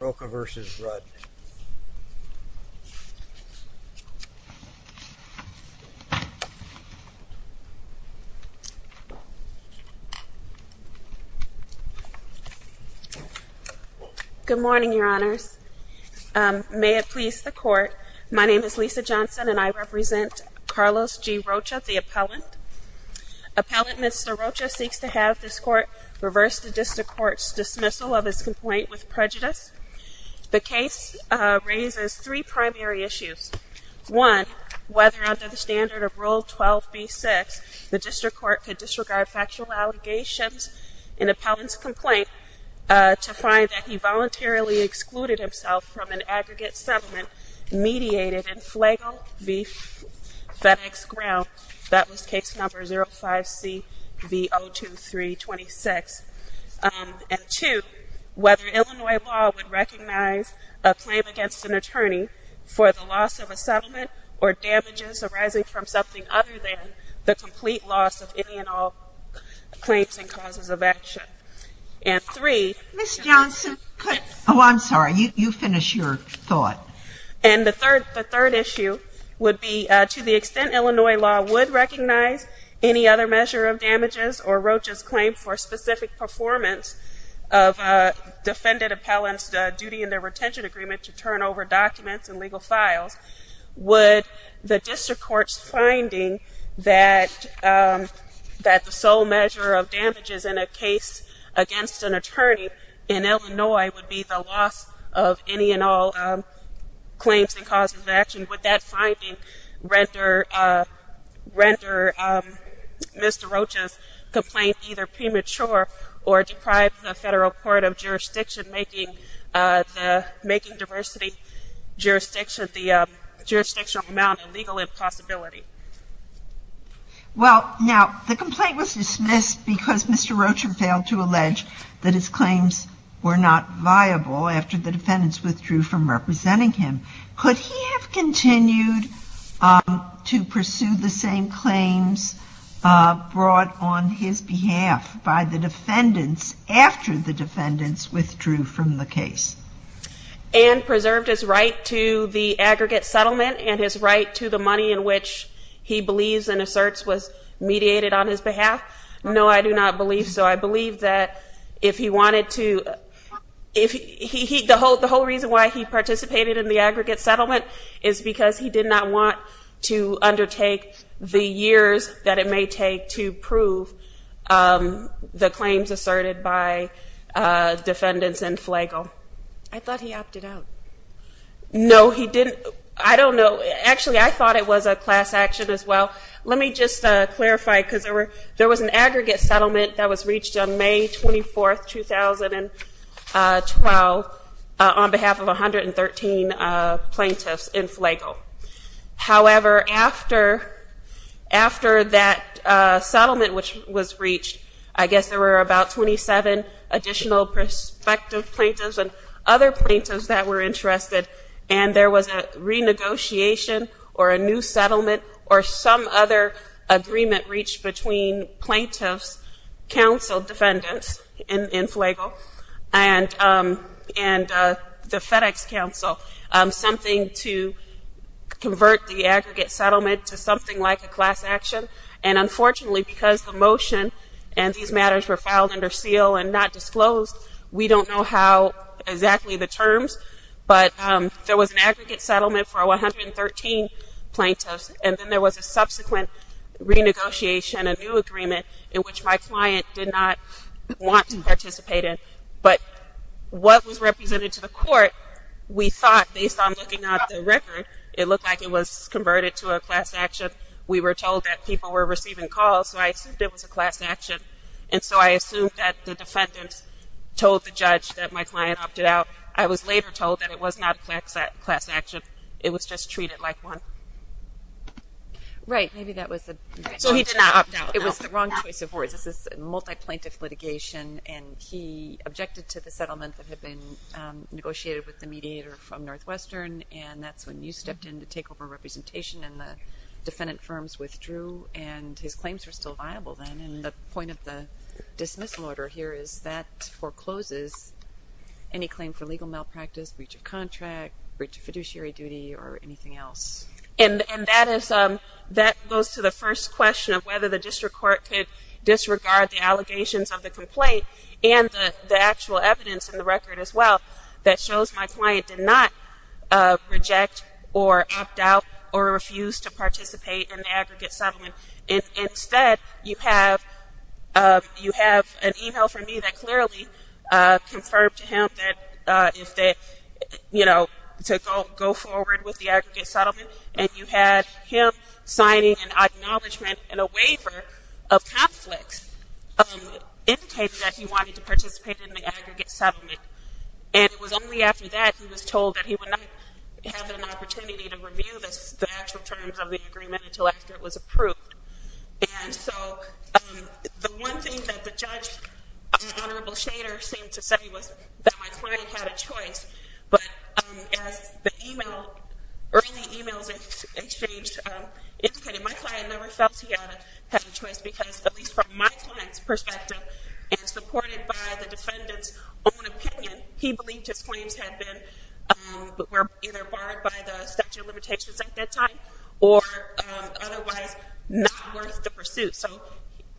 Good morning, Your Honors. May it please the Court, my name is Lisa Johnson and I represent Carlos G. Rocha, the appellant. Appellant Mr. Rocha seeks to have this Court reverse the District Court's dismissal of his complaint with prejudice. The case raises three primary issues. One, whether under the standard of Rule 12b-6, the District Court could disregard factual allegations in the appellant's complaint to find that he voluntarily excluded himself from an aggregate settlement mediated in Flago v. FedEx Ground. That was case number 05C v. 023-26. And two, whether Illinois law would recognize a claim against an attorney for the loss of a settlement or damages arising from something other than the complete loss of any and all claims and causes of action. And three, Ms. Johnson could... Oh, I'm sorry, you finish your thought. And the third issue would be to the extent Illinois law would recognize any other measure of damages or Rocha's claim for specific performance of a defendant appellant's duty in their retention agreement to turn over documents and legal files, would the District Court's finding that the sole measure of damages in a case against an attorney in Illinois would be the loss of any and all claims and causes of action, would that finding render Mr. Rocha's complaint either premature or deprive the Federal Court of jurisdiction, making diversity jurisdiction, the jurisdictional amount a legal impossibility? Well, now, the complaint was dismissed because Mr. Rocha failed to allege that his claims were not viable after the defendants withdrew from representing him. Could he have continued to pursue the same claims brought on his behalf by the defendants after the defendants withdrew from the case? And preserved his right to the aggregate settlement and his right to the money in which he believes and asserts was mediated on his behalf? No, I do not believe so. I believe that if he wanted to, the whole reason why he participated in the aggregate settlement is because he did not want to undertake the years that it may take to prove the claims asserted by defendants in Flagle. I thought he opted out. No, he didn't. I don't know. Actually, I thought it was a class action as well. Let me just clarify because there was an aggregate settlement that was reached on May 24, 2012, on behalf of 113 plaintiffs in Flagle. However, after that settlement which was reached, I guess there were about 27 additional prospective plaintiffs and other plaintiffs that were interested and there was a renegotiation or a new settlement or some other agreement reached between plaintiffs, counsel defendants in Flagle, and the FedEx counsel, something to convert the aggregate settlement to something like a class action. And unfortunately, because the motion and these matters were filed under seal and not disclosed, we don't know how exactly the terms, but there was an aggregate settlement for 113 plaintiffs and then there was a subsequent renegotiation, a new agreement in which my client did not want to participate in. But what was represented to the court, we thought based on looking at the record, it looked like it was converted to a class action. We were told that people were receiving calls, so I assumed it was a class action. And so I assumed that the defendants told the judge that my client opted out. I was later told that it was not a class action, it was just treated like one. Right, maybe that was the... So he did not opt out. It was the wrong choice of words. This is multi-plaintiff litigation and he objected to the settlement that had been negotiated with the mediator from Northwestern and that's when you stepped in to take over representation and the defendant firms withdrew and his claims were still viable then. And the point of the dismissal order here is that forecloses any claim for legal malpractice, breach of contract, breach of fiduciary duty, or anything else. And that goes to the first question of whether the district court could disregard the allegations of the complaint and the actual evidence in the record as well that shows my client did not reject or opt out or refuse to participate in the aggregate settlement. Instead, you have an email from me that clearly confirmed to him that if they, you know, to go forward with the aggregate settlement and you had him signing an acknowledgement and a waiver of conflicts, it indicated that he wanted to participate in the aggregate settlement. And it was only after that he was told that he would not have an opportunity to review the actual terms of the agreement until after it was approved. And so, the one thing that the judge and Honorable Shader seemed to say was that my client had a choice. But as the email, early emails exchanged indicated my client never felt he had a choice because at least from my client's perspective and supported by the defendant's own opinion, he believed his claims had been, were either barred by the statute of limitations at that time or otherwise not worth the pursuit. So,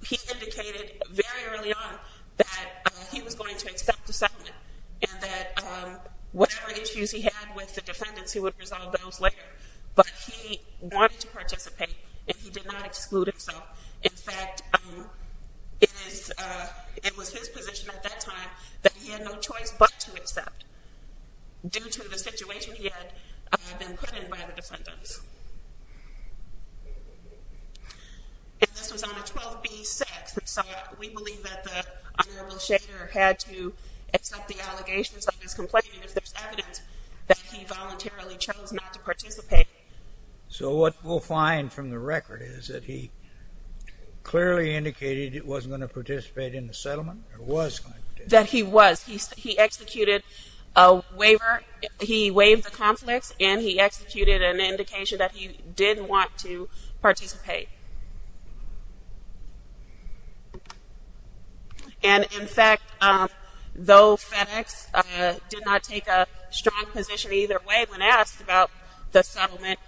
he indicated very early on that he was going to accept the settlement and that whatever issues he had with the defendants, he would resolve those later. But he wanted to participate and he did not exclude himself. In fact, it was his position at that time that he had no choice but to accept due to the situation he had been put in by the defendants. And this was on a 12b6. And so, we believe that the Honorable Shader had to accept the allegations of his complaint and if there's evidence that he voluntarily chose not to participate. So what we'll find from the record is that he clearly indicated he wasn't going to participate in the settlement or was going to participate? That he was. He executed a waiver. He waived the conflicts and he executed an indication that he didn't want to participate. And in fact, though FedEx did not take a strong position either way when asked about the settlement,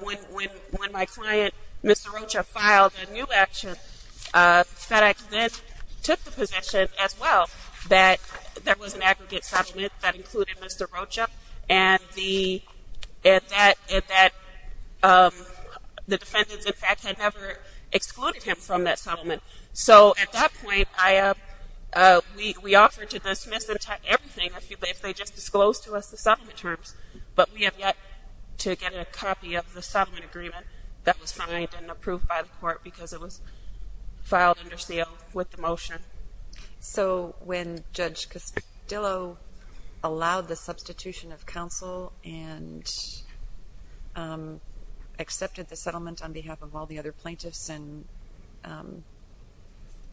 when my client, Mr. Rocha, filed a new action, FedEx then took the position as well that there was an aggregate settlement that included Mr. Rocha and that the defendants, in fact, had never excluded him from that settlement. So at that point, we offered to dismiss everything if they just disclosed to us the settlement terms. But we have yet to get a copy of the settlement agreement that was signed and approved by the court because it was filed under seal with the motion. So when Judge Castillo allowed the substitution of counsel and accepted the settlement on behalf of all the other plaintiffs and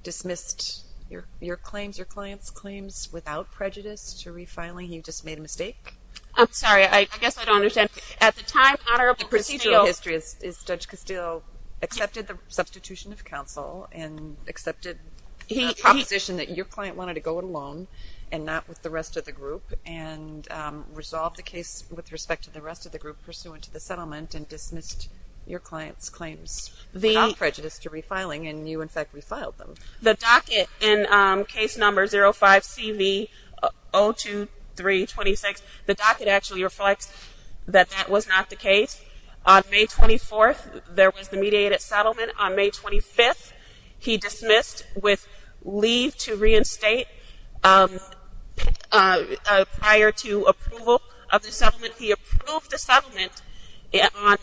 dismissed your claims, your client's claims, without prejudice to refiling, he just made a mistake? I'm sorry. I guess I don't understand. At the time, Honorable Castillo... The procedural history is Judge Castillo accepted the substitution of counsel and accepted the proposition that your client wanted to go it alone and not with the rest of the group and resolved the case with respect to the rest of the group pursuant to the settlement and dismissed your client's claims without prejudice to refiling and you, in fact, refiled them. The docket in case number 05-CV-02326, the docket actually reflects that that was not the case. On May 24th, there was the mediated settlement. On May 25th, he dismissed with leave to reinstate prior to approval of the settlement. He approved the settlement on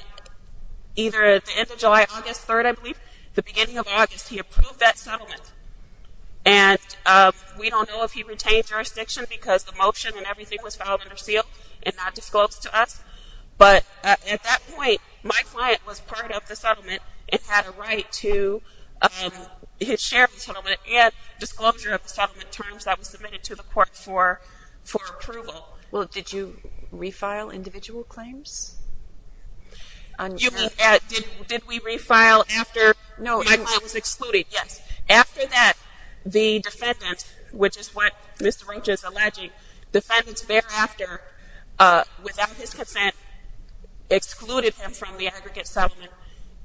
either the end of July, August 3rd, I believe, the beginning of August. He approved that settlement and we don't know if he retained jurisdiction because the motion and everything was filed under seal and not disclosed to us, but at that point, my client was part of the settlement and had a right to his share of the settlement and disclosure of the settlement terms that was submitted to the court for approval. Well, did you refile individual claims? You mean, did we refile after my client was excluded? Yes. After that, the defendants, which is what Mr. Ranch is alleging, defendants thereafter, without his consent, excluded him from the aggregate settlement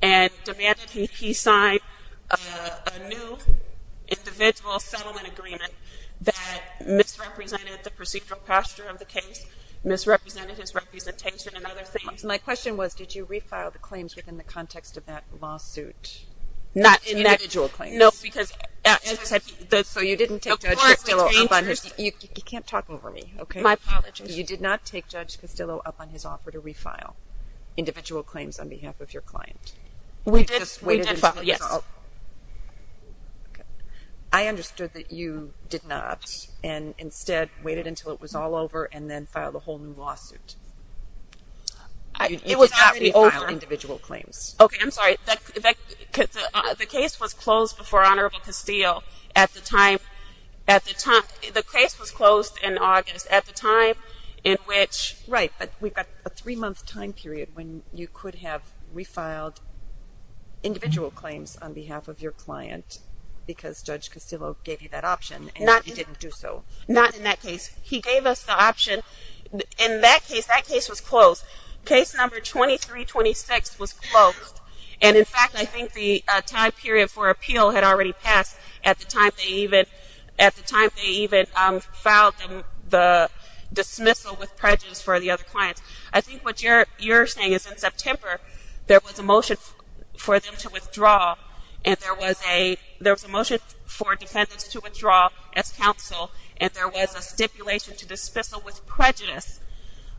and demanded he sign a new individual settlement agreement that misrepresented the procedural posture of the case, misrepresented his representation and other things. My question was, did you refile the claims within the context of that lawsuit? Not individual claims. No, because... So you didn't take Judge Costillo up on his... You can't talk over me, okay? My apologies. You did not take Judge Costillo up on his offer to refile individual claims on behalf of your client? We did, yes. Okay. I understood that you did not and instead waited until it was all over and then filed a whole new lawsuit. It was already over. You did not refile individual claims. Okay, I'm sorry. The case was closed before Honorable Costillo at the time, at the time, the case was closed in August at the time in which... Right, but we've got a three-month time period when you could have refiled individual claims on behalf of your client because Judge Costillo gave you that option and you didn't do so. Not in that case. He gave us the option. In that case, that case was closed. Case number 2326 was closed and in fact, I think the time period for appeal had already passed at the time they even filed the dismissal with prejudice for the other clients. I think what you're saying is in September, there was a motion for them to withdraw and there was a motion for defendants to withdraw as counsel and there was a stipulation to dismissal with prejudice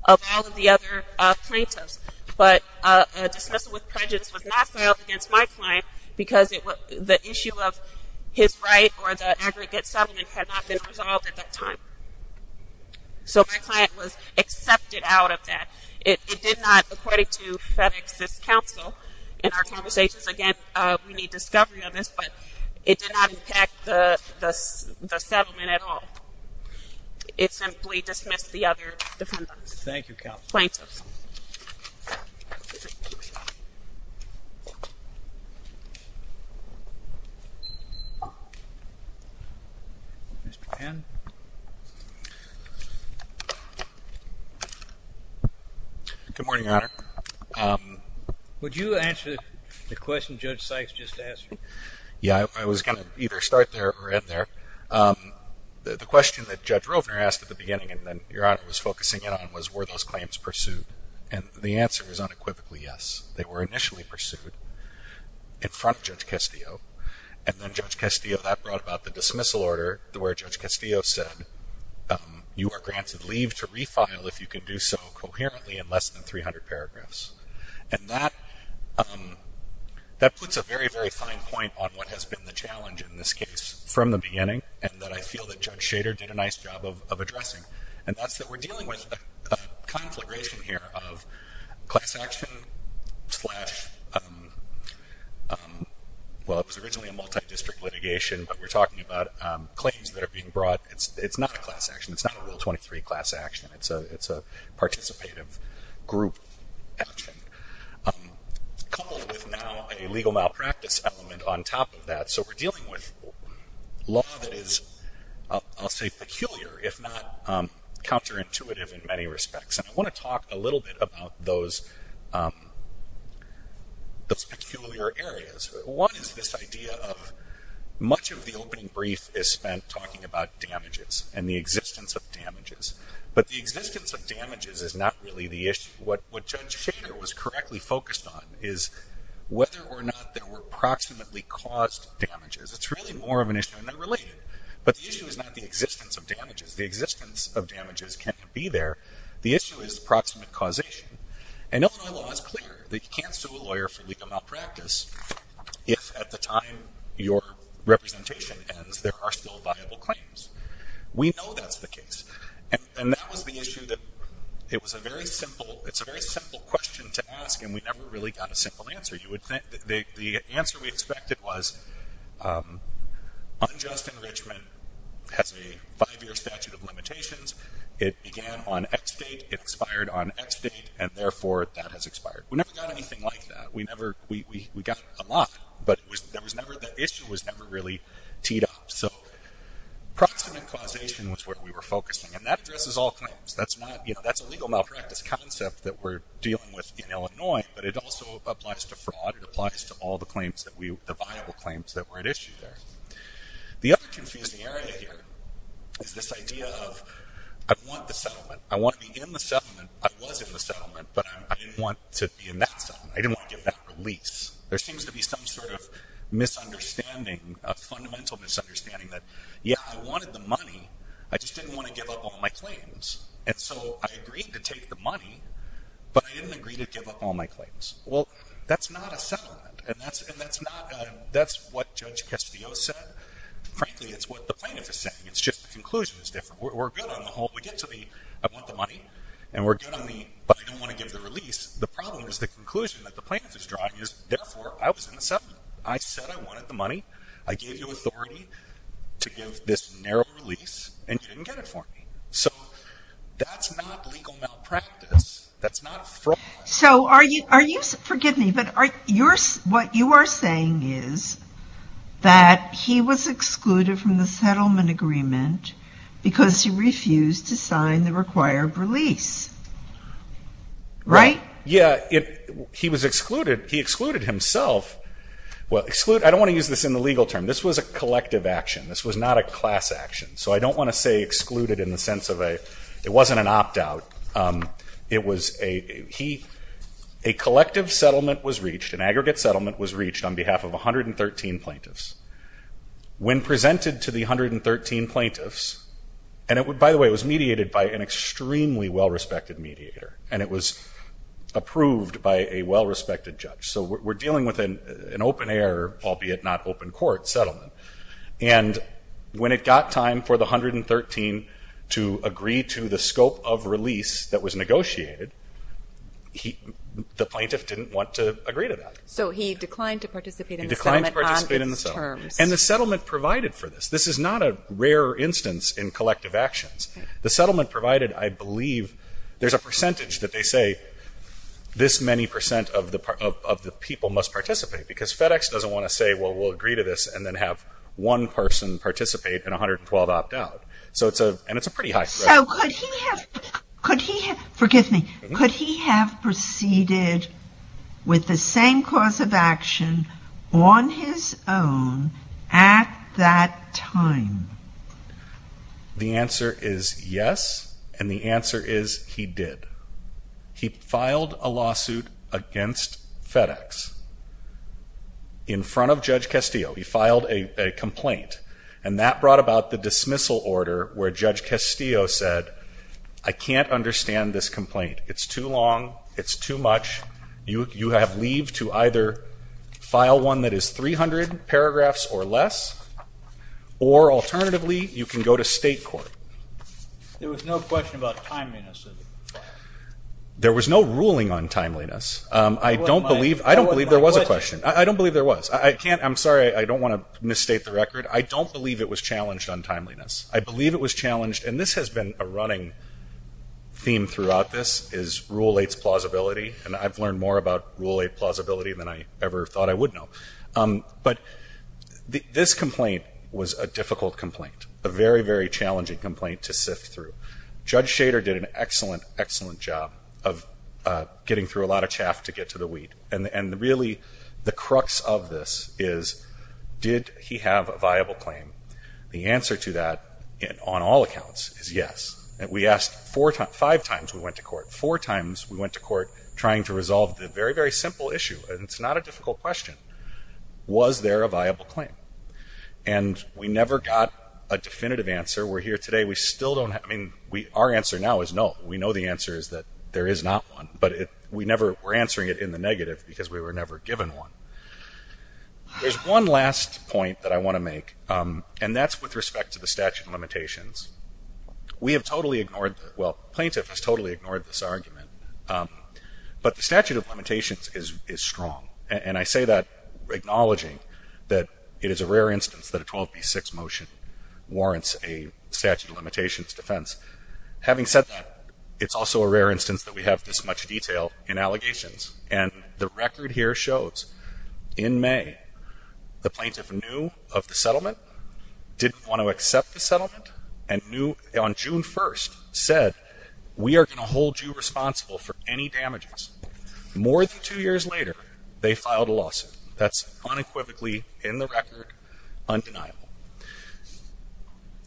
of all of the other plaintiffs, but a dismissal with prejudice was not filed against my client because the issue of his right or the aggregate settlement had not been resolved at that time. So my client was accepted out of that. It did not, according to FedEx's counsel, in our conversations again, we need discovery on this, but it did not impact the settlement at all. It simply dismissed the other defendants, plaintiffs. Mr. Penn? Good morning, Your Honor. Would you answer the question Judge Sykes just asked? Yeah, I was going to either start there or end there. The question that Judge Rovner asked at the beginning and then Your Honor was focusing in on was, were those claims pursued? And the answer is unequivocally yes. They were initially pursued in front of Judge Castillo and then Judge Castillo, that brought about the dismissal order where Judge Castillo said, you are granted leave to refile if you can do so coherently in less than 300 paragraphs. And that puts a very, very fine point on what has been the challenge in this case from the beginning and that I feel that Judge Shader did a nice job of addressing and that's that we're dealing with a conflagration here of class action slash, well it was originally a multi-district litigation, but we're talking about claims that are being brought. It's not a class action. It's not a Rule 23 class action. It's a participative group action. Coupled with now a legal malpractice element on top of that, so we're dealing with law that is, I'll say peculiar, if not counterintuitive in many respects. And I want to talk a little bit about those, those peculiar areas. One is this idea of much of the opening brief is spent talking about damages and the existence of damages, but the existence of damages is not really the issue. What Judge Shader was correctly focused on is whether or not there were proximately caused damages. It's really more of an issue and they're related, but the issue is not the existence of damages. The existence of damages can't be there. The issue is proximate causation. And Illinois law is clear that you can't sue a lawyer for legal malpractice if at the time your representation ends there are still viable claims. We know that's the case and that was the issue that it was a very simple, it's a very simple question to ask and we never really got a simple answer. You would think that the answer we expected was unjust enrichment has a five-year statute of limitations. It began on X date, expired on X date, and therefore that has expired. We never got anything like that. We never, we, we, we got a lot, but it was, there was never, the issue was never really teed up. So proximate causation was where we were focusing and that addresses all claims. That's not, you know, that's a legal malpractice concept that we're dealing with in Illinois, but it also applies to fraud. It applies to all the claims that we, the viable claims that were at issue there. The other confusing area here is this idea of I want the settlement. I want to be in the settlement. I was in the settlement, but I didn't want to be in that settlement. I didn't want to give that release. There seems to be some sort of misunderstanding, a fundamental misunderstanding that, yeah, I wanted the money. I just didn't want to give up all my claims. And so I agreed to take the money, but I didn't agree to give up all my claims. Well, that's not a settlement and that's, and that's not a, that's what Judge Castillo said. Frankly, it's what the plaintiff is saying. It's just the conclusion is different. We're good on the whole, we get to the, I want the money and we're good on the, but I don't want to give the release. The problem is the conclusion that the plaintiff is drawing is therefore I was in the settlement. I said I wanted the money. I gave you authority to give this narrow release and you didn't get it for me. So that's not legal malpractice. That's not fraud. So are you, are you, forgive me, but are your, what you are saying is that he was excluded from the settlement agreement because he refused to sign the required release, right? Yeah. He was excluded. He excluded himself. Well, exclude, I don't want to use this in the legal term. This was a collective action. This was not a class action. So I don't want to say excluded in the sense of a, it wasn't an opt out. It was a, he, a collective settlement was reached, an aggregate settlement was reached on behalf of 113 plaintiffs. When presented to the 113 plaintiffs, and it would, by the way, it was mediated by an extremely well-respected mediator and it was approved by a well-respected judge. So we're dealing with an open air, albeit not open court settlement. And when it got time for the 113 to agree to the scope of release that was negotiated, he, the plaintiff didn't want to agree to that. So he declined to participate in the settlement on his terms. He declined to participate in the settlement. And the settlement provided for this. This is not a rare instance in collective actions. The settlement provided, I believe, there's a percentage that they say this many percent of the people must participate because FedEx doesn't want to say, well, we'll agree to this and then have one person participate and 112 opt out. So it's a, and it's a pretty high threshold. So could he have, could he, forgive me, could he have proceeded with the same cause of action on his own at that time? The answer is yes. And the answer is he did. He filed a lawsuit against FedEx in front of Judge Castillo. He filed a complaint and that brought about the dismissal order where Judge Castillo said, I can't understand this complaint. It's too long. It's too much. You, you have leave to either file one that is 300 paragraphs or less, or alternatively you can go to state court. There was no question about timeliness. There was no ruling on timeliness. I don't believe, I don't believe there was a question. I don't believe there was. I can't, I'm sorry, I don't want to misstate the record. I don't believe it was challenged on timeliness. I believe it was challenged, and this has been a running theme throughout this, is Rule 8's plausibility, and I've learned more about Rule 8 plausibility than I ever thought I would know. But this complaint was a difficult complaint, a very, very challenging complaint to sift through. Judge Shader did an excellent, excellent job of getting through a lot of chaff to get to the wheat, and really the crux of this is did he have a viable claim? The answer to that, on all accounts, is yes. And we asked four times, five times we went to court, four times we went to court trying to resolve the very, very simple issue, and it's not a difficult question. Was there a viable claim? And we never got a definitive answer. We're here today, we still don't have, I mean, our answer now is no. We know the answer is that there is not one, but we never, we're answering it in the negative because we were never given one. There's one last point that I want to make, and that's with respect to the statute of limitations. We have totally ignored, well, plaintiff has totally ignored this argument, but the statute of limitations is strong, and I say that acknowledging that it is a rare instance that a 12b6 motion warrants a statute of limitations defense. Having said that, it's also a rare instance that we have this much detail in allegations, and the record here shows in May, the plaintiff knew of the settlement, didn't want to accept the settlement, and on June 1st said, we are going to hold you responsible for any damages. More than two years later, they filed a lawsuit. That's unequivocally in the record, undeniable.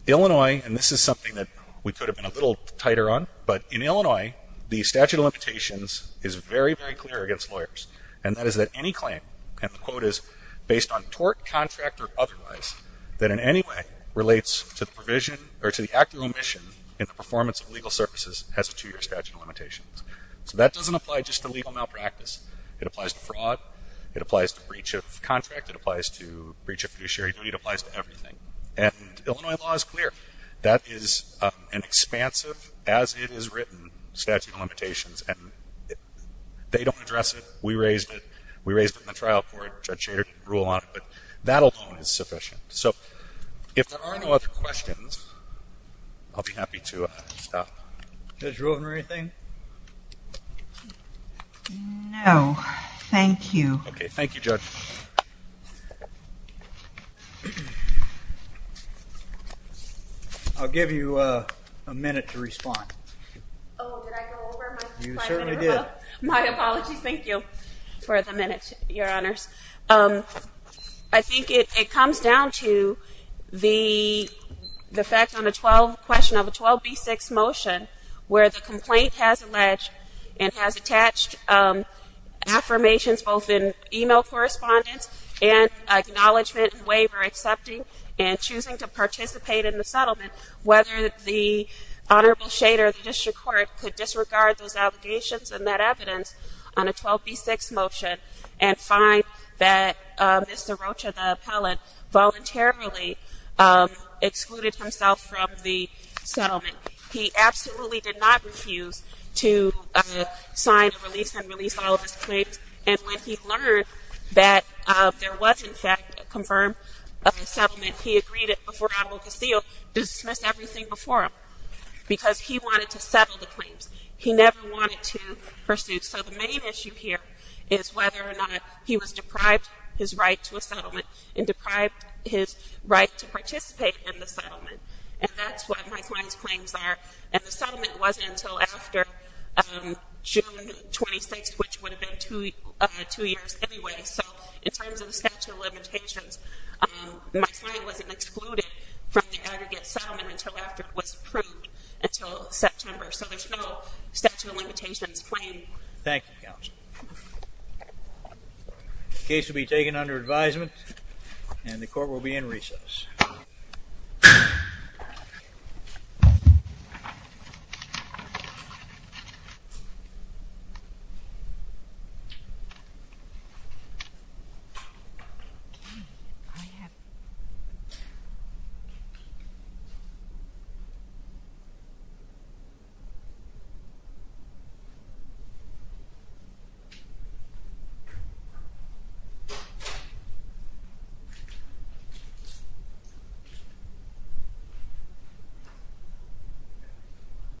Illinois, and this is something that we could have been a little tighter on, but in Illinois, the statute of limitations is very, very clear against lawyers, and that is that any claim, and the quote is, based on tort, contract, or otherwise, that in any way relates to the provision or to the act of omission in the performance of legal services has a two-year statute of limitations. So that doesn't apply just to legal malpractice. It applies to fraud. It applies to breach of contract. It applies to breach of fiduciary duty. It applies to everything, and Illinois law is clear. That is an expansive, as it is written, statute of limitations, and they don't address it. We raised it. We raised it in the trial court. Judge Shader didn't rule on it, but that alone is sufficient. So if there are no other questions, I'll be happy to stop. Judge Rueben, anything? No. Thank you. Okay. Thank you, Judge. I'll give you a minute to respond. Oh, did I go over my slide? You certainly did. My apologies. Thank you for the minute, Your Honors. I think it comes down to the effect on the 12 question of a 12B6 motion where the complaint has alleged and has attached affirmations both in e-mail correspondence and acknowledgement and waiver accepting and choosing to participate in the settlement, whether the Honorable Shader of the district court could disregard those allegations and that evidence on a 12B6 motion and find that Mr. Rocha, the appellant, voluntarily excluded himself from the settlement. He absolutely did not refuse to sign a release and release all of his claims, and when he learned that there was, in fact, a confirmed settlement, he agreed before Honorable Casillo to dismiss everything before him because he wanted to settle the claims. He never wanted to pursue. So the main issue here is whether or not he was deprived his right to a settlement and deprived his right to participate in the settlement, and that's what my client's claims are. And the settlement wasn't until after June 26th, which would have been two years anyway. So in terms of the statute of limitations, my client wasn't excluded from the aggregate settlement until after it was approved until September. So there's no statute of limitations claim. Thank you, Counsel. The case will be taken under advisement, and the court will be in recess. Thank you.